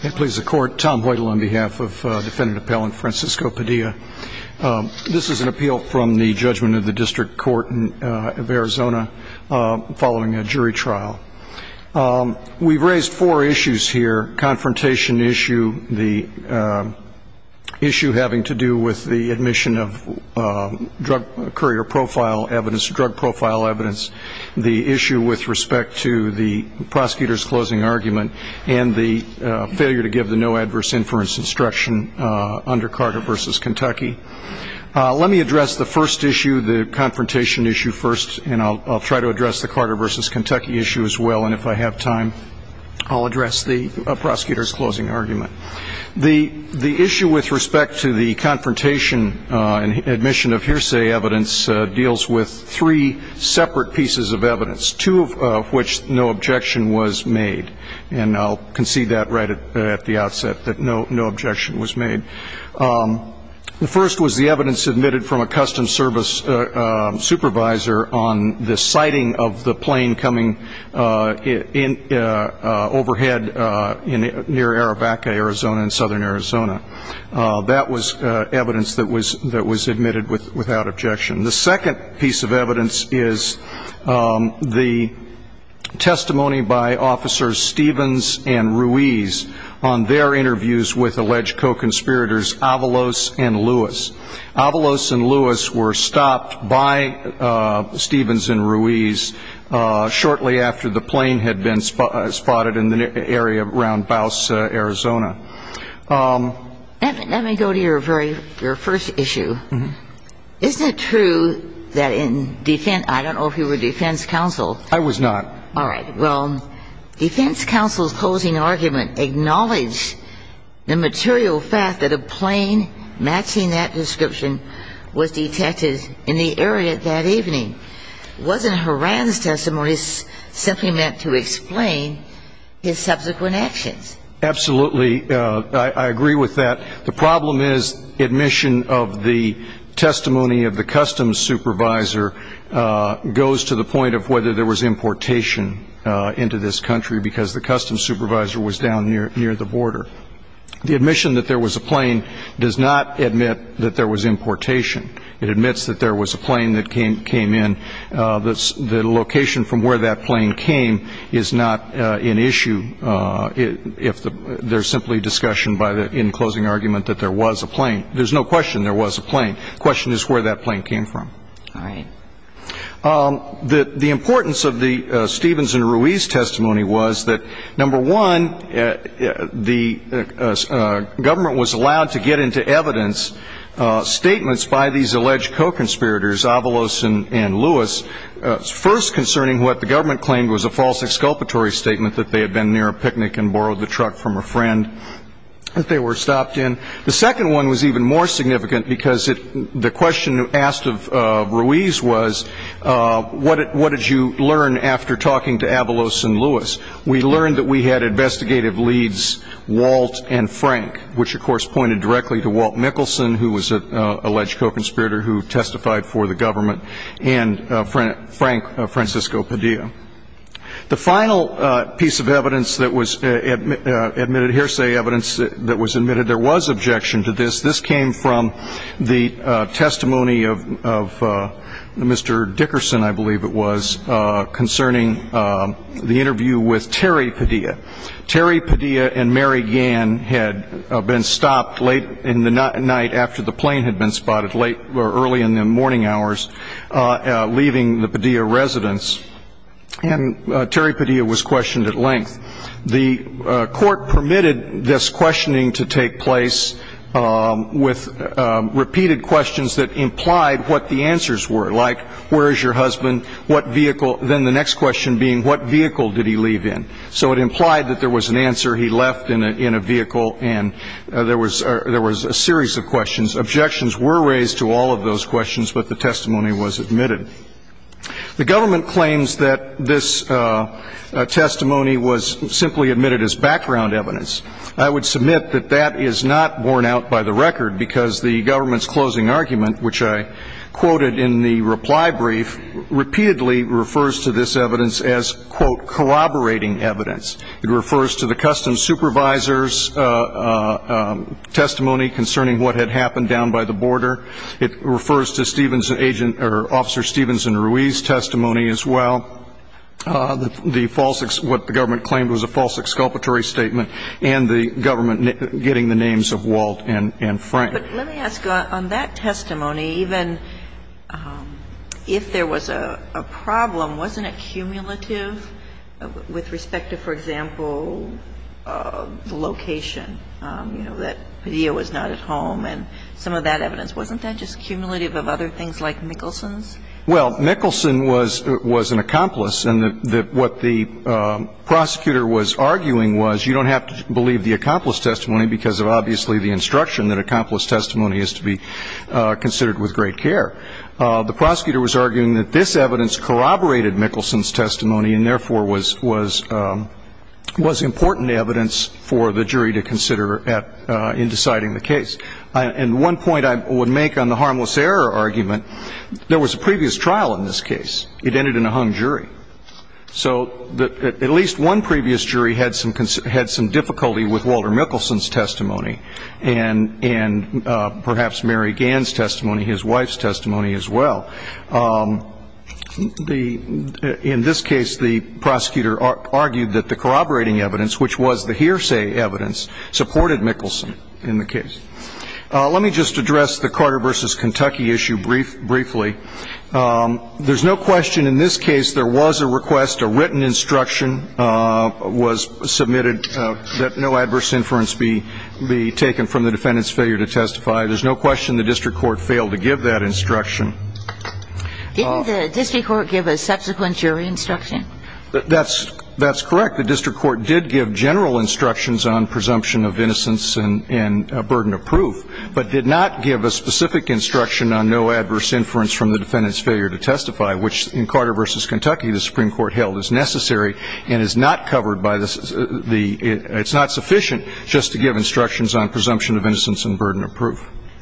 This is an appeal from the judgment of the District Court of Arizona following a jury trial. We've raised four issues here. Confrontation issue, the issue having to do with the admission of drug courier profile evidence, drug profile evidence, the issue with respect to the prosecutor's closing argument, and the issue with respect to the prosecution's closing argument. The issue with respect to the confrontation and admission of hearsay evidence deals with three separate pieces of evidence, two of which no objection was made. And I'll concede that right now. The first was the evidence admitted from a Customs Service supervisor on the sighting of the plane coming overhead near Arabaca, Arizona, in southern Arizona. That was evidence that was admitted without objection. The second piece of evidence is the testimony by Officers Stevens and Ruiz on their interviews with alleged co-conspirators Avalos and Lewis. Avalos and Lewis were stopped by Stevens and Ruiz shortly after the plane had been spotted in the area around Baus, Arizona. Let me go to your first issue. Isn't it true that in defense, I don't know if you were defense counsel. I was not. All right. Well, defense counsel's closing argument acknowledged the material fact that a plane matching that description was detected in the area that evening. Wasn't Horan's testimony simply meant to explain his subsequent actions? Absolutely. I agree with that. The problem is admission of the testimony of the Customs supervisor goes to the point of whether there was importation into this country because the Customs supervisor was down near the border. The admission that there was a plane does not admit that there was importation. It admits that there was a plane that came in. The location from where that plane came is not an issue if there's simply discussion by the in-closing argument that there was a plane. There's no question there was a plane. The question is where that plane came from. All right. The importance of the Stevens and Ruiz testimony was that, number one, the government was allowed to get into evidence statements by these alleged co-conspirators, Avalos and Lewis, first concerning what the government claimed was a false exculpatory statement that they had been near a picnic and borrowed the truck from a friend that they were stopped in. The second one was even more significant because the question asked of Ruiz was, what did you learn after talking to Avalos and Lewis? We learned that we had investigative leads, Walt and Frank, which, of course, pointed directly to Walt Mickelson, who was an alleged co-conspirator who testified for the government, and Frank Francisco Padilla. The final piece of evidence that was admitted, hearsay evidence that was admitted, there was objection to this. This came from the testimony of Mr. Dickerson, I believe it was, concerning the interview with Terry Padilla. Terry Padilla and Mary Gann had been stopped late in the night after the plane had been spotted, late or early in the morning hours, leaving the Padilla residence, and Terry Padilla was questioned at length. The court permitted this questioning to take place with repeated questions that implied what the answers were, like, where is your husband, what vehicle, then the next question being, what vehicle did he leave in? So it implied that there was an answer, he left in a vehicle, and there was a series of questions. Objections were raised to all of those questions, but the testimony was admitted. The government claims that this testimony was simply admitted as background evidence. I would submit that that is not borne out by the record, because the government's closing argument, which I quoted in the reply brief, repeatedly refers to this evidence as, quote, corroborating evidence. It refers to the customs supervisor's testimony concerning what had happened down by the border. It refers to Stevenson's agent, or Officer Stevenson Ruiz's testimony as well. The false, what the government claimed was a false exculpatory statement, and the government getting the names of Walt and Frank. But let me ask, on that testimony, even if there was a problem, wasn't it cumulative with respect to, for example, the location? You know, that Padilla was not at home, and some of that evidence. Wasn't that just cumulative of other things, like Mickelson's? Well, Mickelson was an accomplice, and what the prosecutor was arguing was, you don't have to believe the accomplice testimony because of, obviously, the instruction that accomplice testimony is to be considered with great care. The prosecutor was arguing that this evidence corroborated Mickelson's testimony, and therefore was important evidence for the jury to consider in deciding the case. And one point I would make on the harmless error argument, there was a previous trial in this case. It ended in a hung jury. So at least one previous jury had some difficulty with Walter Mickelson's testimony, and perhaps Mary Gann's testimony, his wife's testimony as well. In this case, the prosecutor argued that the corroborating evidence, which was the hearsay evidence, supported Mickelson in the case. Let me just address the Carter v. Kentucky issue briefly. There's no question in this case there was a request, a written instruction was submitted, that no adverse inference be taken from the defendant's failure to testify. There's no question the district court failed to give that instruction. Didn't the district court give a subsequent jury instruction? That's correct. The district court did give general instructions on presumption of innocence and burden of proof, but did not give a specific instruction on no adverse inference from the defendant's failure to testify, which in Carter v. Kentucky the Supreme Court held is necessary and is not covered by the ‑‑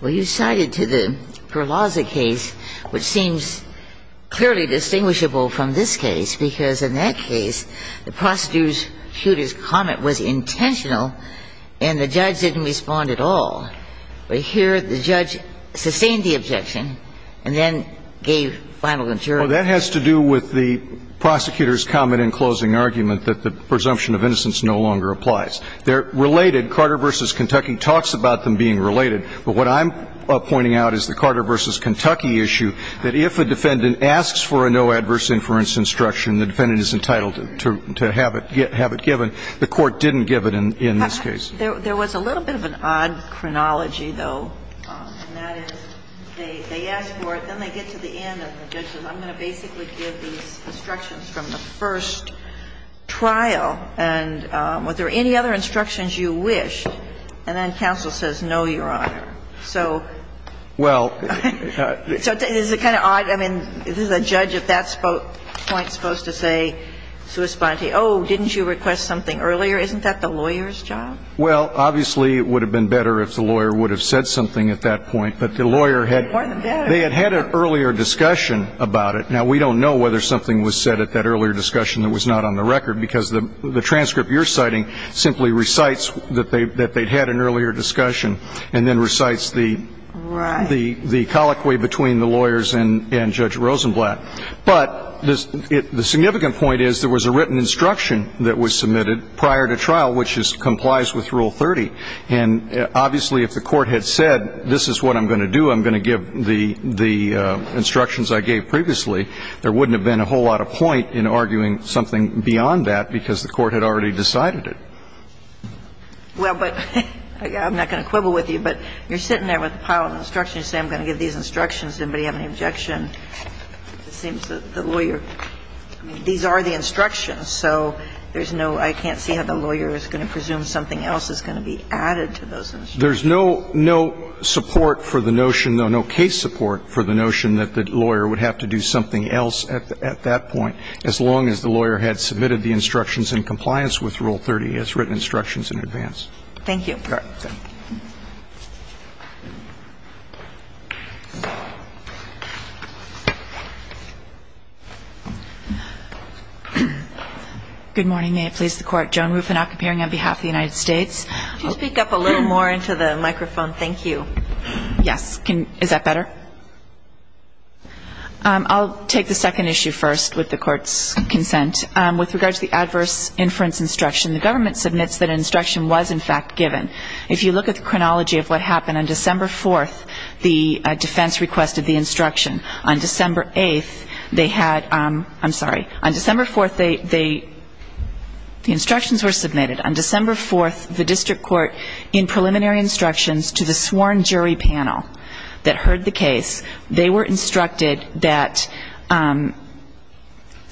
Well, you cited to the Perlaza case, which seems clearly distinguishable from this case, because in that case the prosecutor's comment was intentional and the judge didn't respond at all. But here the judge sustained the objection and then gave final injury. Well, that has to do with the prosecutor's comment in closing argument that the presumption of innocence no longer applies. They're related. Carter v. Kentucky talks about them being related. But what I'm pointing out is the Carter v. Kentucky issue, that if a defendant asks for a no adverse inference instruction, the defendant is entitled to have it given. The court didn't give it in this case. There was a little bit of an odd chronology, though, and that is they ask for it, then they get to the end and the judge says I'm going to basically give these instructions from the first trial. And are there any other instructions you wish? And then counsel says no, Your Honor. So ‑‑ Well ‑‑ So is it kind of odd? I mean, is a judge at that point supposed to say, oh, didn't you request something earlier? Isn't that the lawyer's job? Well, obviously it would have been better if the lawyer would have said something at that point. But the lawyer had ‑‑ More than better. They had had an earlier discussion about it. Now, we don't know whether something was said at that earlier discussion that was not on the record because the transcript you're citing simply recites that they had an earlier discussion and then recites the ‑‑ Right. The colloquy between the lawyers and Judge Rosenblatt. But the significant point is there was a written instruction that was submitted prior to trial which complies with Rule 30. And obviously if the court had said this is what I'm going to do, I'm going to give the instructions I gave previously, there wouldn't have been a whole lot of point in arguing something beyond that because the court had already decided it. Well, but ‑‑ I'm not going to quibble with you, but you're sitting there with a pile of instructions saying I'm going to give these instructions. Does anybody have any objection? It seems that the lawyer ‑‑ I mean, these are the instructions. So there's no ‑‑ I can't see how the lawyer is going to presume something else is going to be added to those instructions. There's no support for the notion, no case support for the notion that the lawyer would have to do something else at that point as long as the lawyer had submitted the instructions in compliance with Rule 30 as written instructions in advance. Thank you. You're welcome. Good morning. May it please the Court. Joan Rufinock appearing on behalf of the United States. Could you speak up a little more into the microphone? Thank you. Yes. Is that better? I'll take the second issue first with the Court's consent. With regard to the adverse inference instruction, the government submits that an instruction was in fact given. If you look at the chronology of what happened, on December 4th, the defense requested the instruction. On December 8th, they had ‑‑ I'm sorry. On December 4th, they ‑‑ the instructions were submitted. On December 4th, the district court in preliminary instructions to the sworn jury panel that heard the case, they were instructed that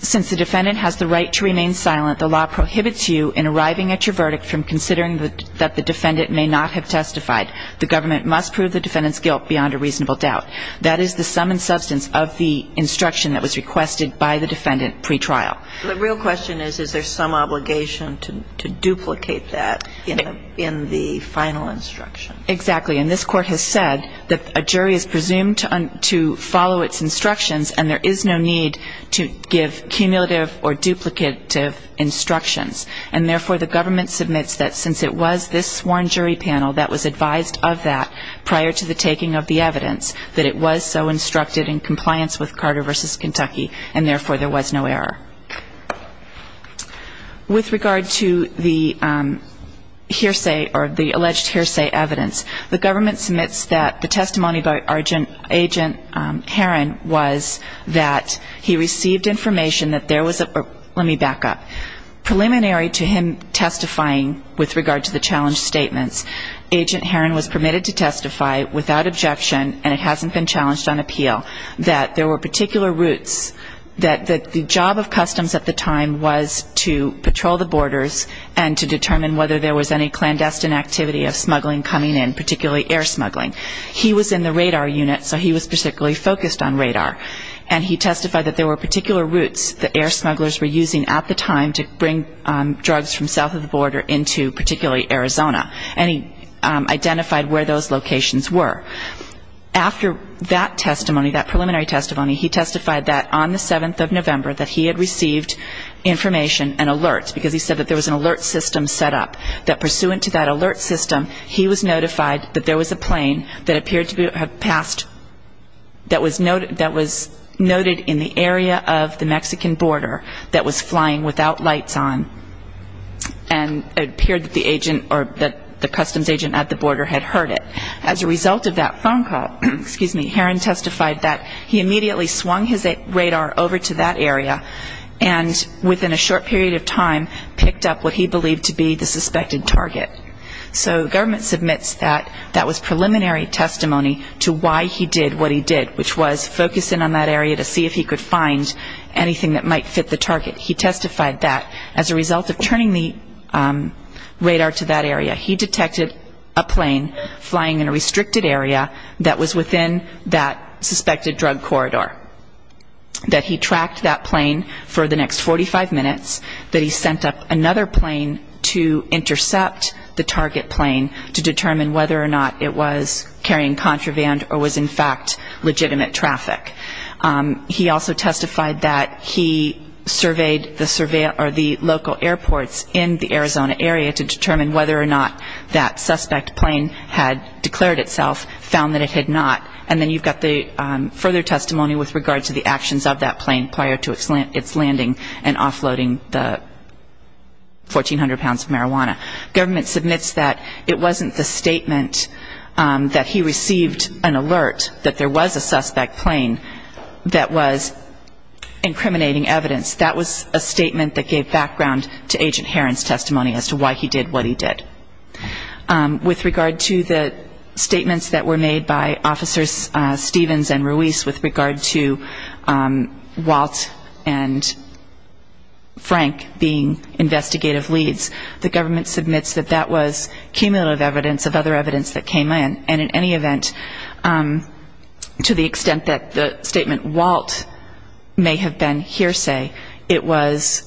since the defendant has the right to remain silent, the law prohibits you in arriving at your verdict from considering that the defendant may not have testified. The government must prove the defendant's guilt beyond a reasonable doubt. That is the sum and substance of the instruction that was requested by the defendant pretrial. The real question is, is there some obligation to duplicate that in the final instruction? Exactly. And this Court has said that a jury is presumed to follow its instructions, and there is no need to give cumulative or duplicative instructions. And therefore, the government submits that since it was this sworn jury panel that was advised of that prior to the taking of the evidence, that it was so instructed in compliance with Carter v. Kentucky, and therefore, there was no error. With regard to the hearsay or the alleged hearsay evidence, the government submits that the testimony by Agent Heron was that he received information that there was a ‑‑ let me back up. Preliminary to him testifying with regard to the challenge statements, Agent Heron was that there were particular routes that the job of customs at the time was to patrol the borders and to determine whether there was any clandestine activity of smuggling coming in, particularly air smuggling. He was in the radar unit, so he was particularly focused on radar. And he testified that there were particular routes that air smugglers were using at the time to bring drugs from south of the border into particularly Arizona. And he identified where those locations were. After that testimony, that preliminary testimony, he testified that on the 7th of November that he had received information and alerts, because he said that there was an alert system set up, that pursuant to that alert system, he was notified that there was a plane that appeared to have passed ‑‑ that was noted in the area of the Mexican border that was flying without lights on, and it appeared that the agent or the customs agent at the border had heard it. As a result of that phone call, Heron testified that he immediately swung his radar over to that area and within a short period of time picked up what he believed to be the suspected target. So the government submits that that was preliminary testimony to why he did what he did, which was focus in on that area to see if he could find anything that might fit the target. He testified that as a result of turning the radar to that area, he detected a plane flying in a restricted area that was within that suspected drug corridor, that he tracked that plane for the next 45 minutes, that he sent up another plane to intercept the target plane to determine whether or not it was carrying contraband or was in fact legitimate traffic. He also testified that he surveyed the local airports in the Arizona area to determine whether or not that suspect plane had declared itself, found that it had not. And then you've got the further testimony with regard to the actions of that plane prior to its landing and offloading the 1,400 pounds of marijuana. Government submits that it wasn't the statement that he received an alert that there was a suspect plane that was incriminating evidence. That was a statement that gave background to Agent Herron's testimony as to why he did what he did. With regard to the statements that were made by Officers Stevens and Ruiz with regard to Walt and Frank being investigative leads, the government submits that that was cumulative evidence of other evidence that came in. And in any event, to the extent that the statement Walt may have been hearsay, it was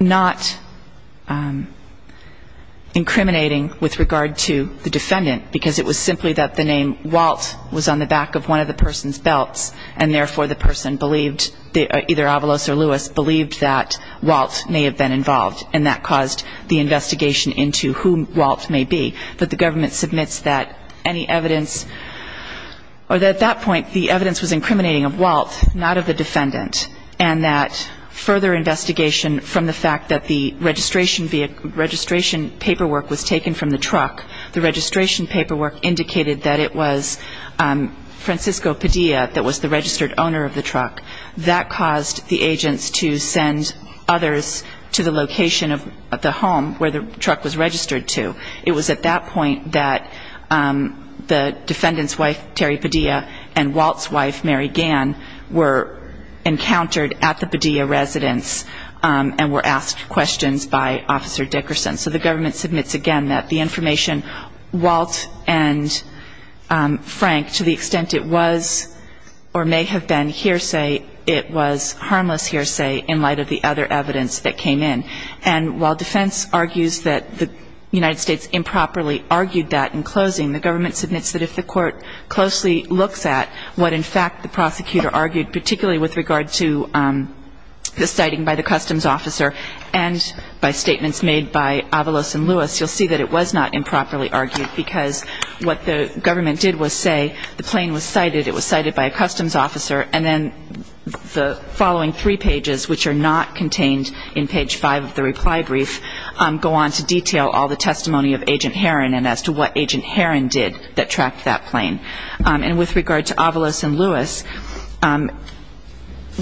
not incriminating with regard to the defendant, because it was simply that the name Walt was on the back of one of the person's belts, and therefore the person believed, either Avalos or Ruiz, believed that Walt may have been involved. And that caused the investigation into who Walt may be. But the government submits that any evidence or that at that point the evidence was incriminating of Walt, not of the defendant, and that further investigation from the fact that the registration paperwork was taken from the truck, the registration paperwork indicated that it was Francisco Padilla that was the registered owner of the truck. That caused the agents to send others to the location of the home where the truck was registered to. It was at that point that the defendant's wife, Terry Padilla, and Walt's wife, Mary Gann, were encountered at the Padilla residence and were asked questions by Officer Dickerson. So the government submits again that the information Walt and Frank, to the extent it was or may have been hearsay, it was harmless hearsay in light of the other evidence that came in. And while defense argues that the United States improperly argued that in closing, the government submits that if the court closely looks at what, in fact, the prosecutor argued, particularly with regard to the citing by the customs officer and by statements made by Avalos and Ruiz, you'll see that it was not improperly argued because what the government did was say the plane was cited, it was cited by a customs officer, and then the following three pages, which are not contained in page five of the reply brief, go on to detail all the testimony of Agent Heron and as to what Agent Heron did that tracked that plane. And with regard to Avalos and Ruiz,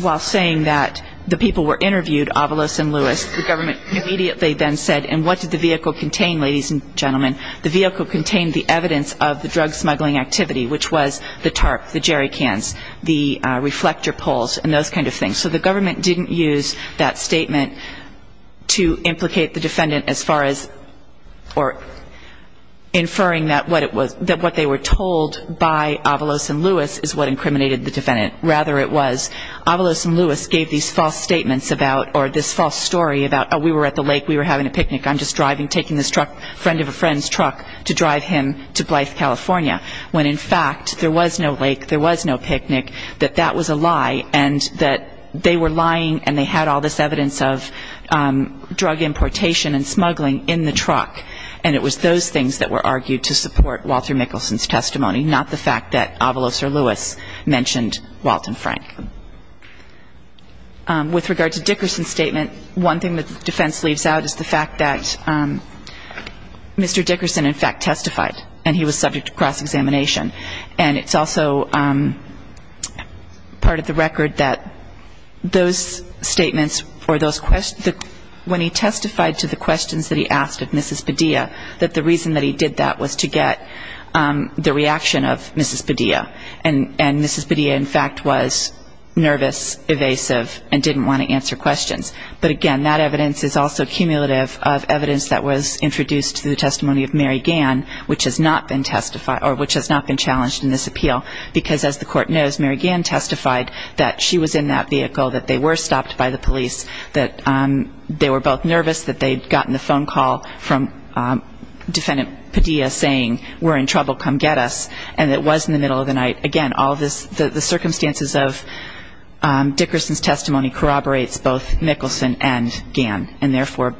while saying that the people were interviewed, Avalos and Ruiz, the government immediately then said, and what did the vehicle contain, ladies and gentlemen, the vehicle contained the evidence of the drug smuggling activity, which was the statement to implicate the defendant as far as or inferring that what it was, that what they were told by Avalos and Ruiz is what incriminated the defendant. Rather, it was Avalos and Ruiz gave these false statements about or this false story about, oh, we were at the lake, we were having a picnic, I'm just driving, taking this truck, friend of a friend's truck to drive him to Blythe, California, when, in fact, there was no lake, there was no picnic, that that was a lie and that they were lying and they had all this evidence of drug importation and smuggling in the truck. And it was those things that were argued to support Walter Mickelson's testimony, not the fact that Avalos or Ruiz mentioned Walton Frank. With regard to Dickerson's statement, one thing that the defense leaves out is the fact that Mr. Dickerson, in fact, testified and he was subject to cross-examination. And it's also part of the record that those statements or those questions, when he testified to the questions that he asked of Mrs. Padilla, that the reason that he did that was to get the reaction of Mrs. Padilla. And Mrs. Padilla, in fact, was nervous, evasive, and didn't want to answer questions. But, again, that evidence is also cumulative of evidence that was introduced to the testimony of Mary Gann, which has not been challenged in this appeal. Because, as the court knows, Mary Gann testified that she was in that vehicle, that they were stopped by the police, that they were both nervous, that they had gotten the phone call from Defendant Padilla saying, we're in trouble, come get us. And it was in the middle of the night. Again, all of this, the circumstances of Dickerson's testimony corroborates both Mickelson and Gann and, therefore,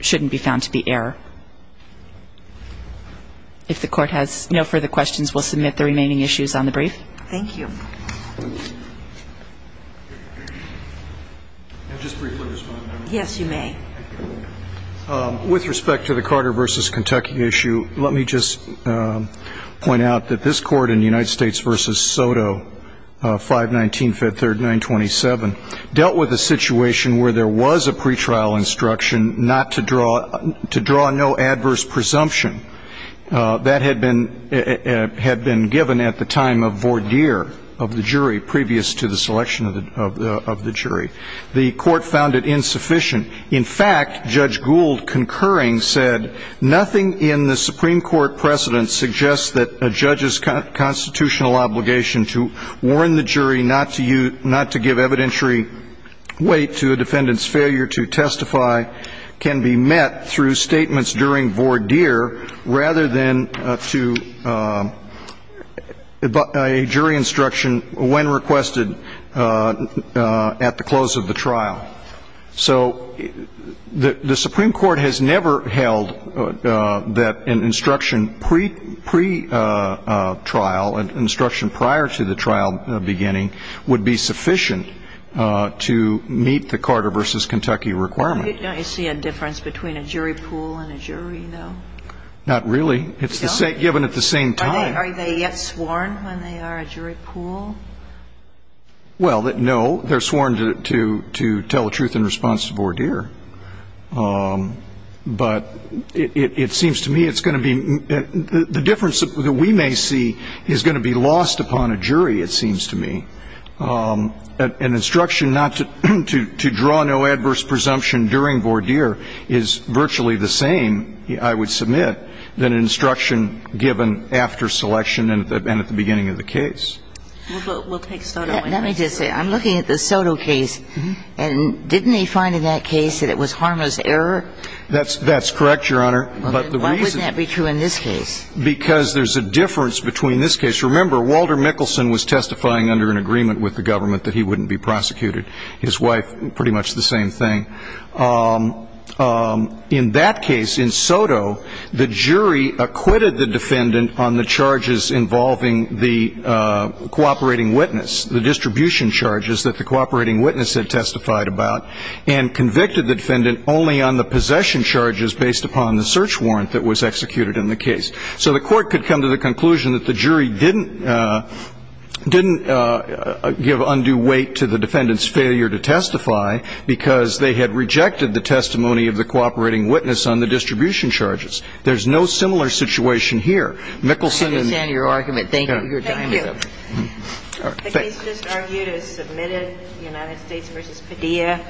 shouldn't be found to be error. If the Court has no further questions, we'll submit the remaining issues on the brief. Thank you. Can I just briefly respond? Yes, you may. With respect to the Carter v. Kentucky issue, let me just point out that this Court in United States v. Soto, 519-539-27, dealt with a situation where there was a pretrial instruction not to draw no adverse presumption. That had been given at the time of voir dire of the jury, previous to the selection of the jury. The Court found it insufficient. In fact, Judge Gould concurring said, nothing in the Supreme Court precedent suggests that a judge's constitutional obligation to warn the jury not to give evidentiary weight to a defendant's failure to testify can be met through statements during voir dire, rather than to a jury instruction when requested at the close of the trial. So the Supreme Court has never held that an instruction pre-trial, an instruction prior to a jury instruction, prior to the trial beginning, would be sufficient to meet the Carter v. Kentucky requirement. Don't you see a difference between a jury pool and a jury, though? Not really. It's given at the same time. Are they yet sworn when they are a jury pool? Well, no. They're sworn to tell the truth in response to voir dire. But it seems to me it's going to be the difference that we may And in fact, it's the same instruction given when the jury is asked upon a jury, it seems to me. An instruction not to draw no adverse presumption during voir dire is virtually the same, I would submit, than an instruction given after selection and at the beginning of the case. It's the same instruction given when the jury is asked upon a jury, it seems to me, than an instruction given after selection after selection and at the beginning of the case. We'll take Soto. Let me just say, I'm looking at the Soto case, and didn't they find in that case that it was harmless error? That's correct, Your Honor. Why would that be true in this case? Because there's a difference between this case. Remember, Walter Mickelson was testifying under an agreement with the government that he wouldn't be prosecuted. His wife, pretty much the same thing. In that case, in Soto, the jury acquitted the defendant on the charges involving the cooperating witness, the distribution charges that the cooperating witness had testified about, and convicted the defendant only on the possession charges based upon the search warrant that was executed in the case. So the Court could come to the conclusion that the jury didn't give undue weight to the defendant's failure to testify because they had rejected the testimony of the cooperating witness on the distribution charges. There's no similar situation here. I understand your argument. Thank you. Thank you. The case just argued is submitted, United States v. Padilla.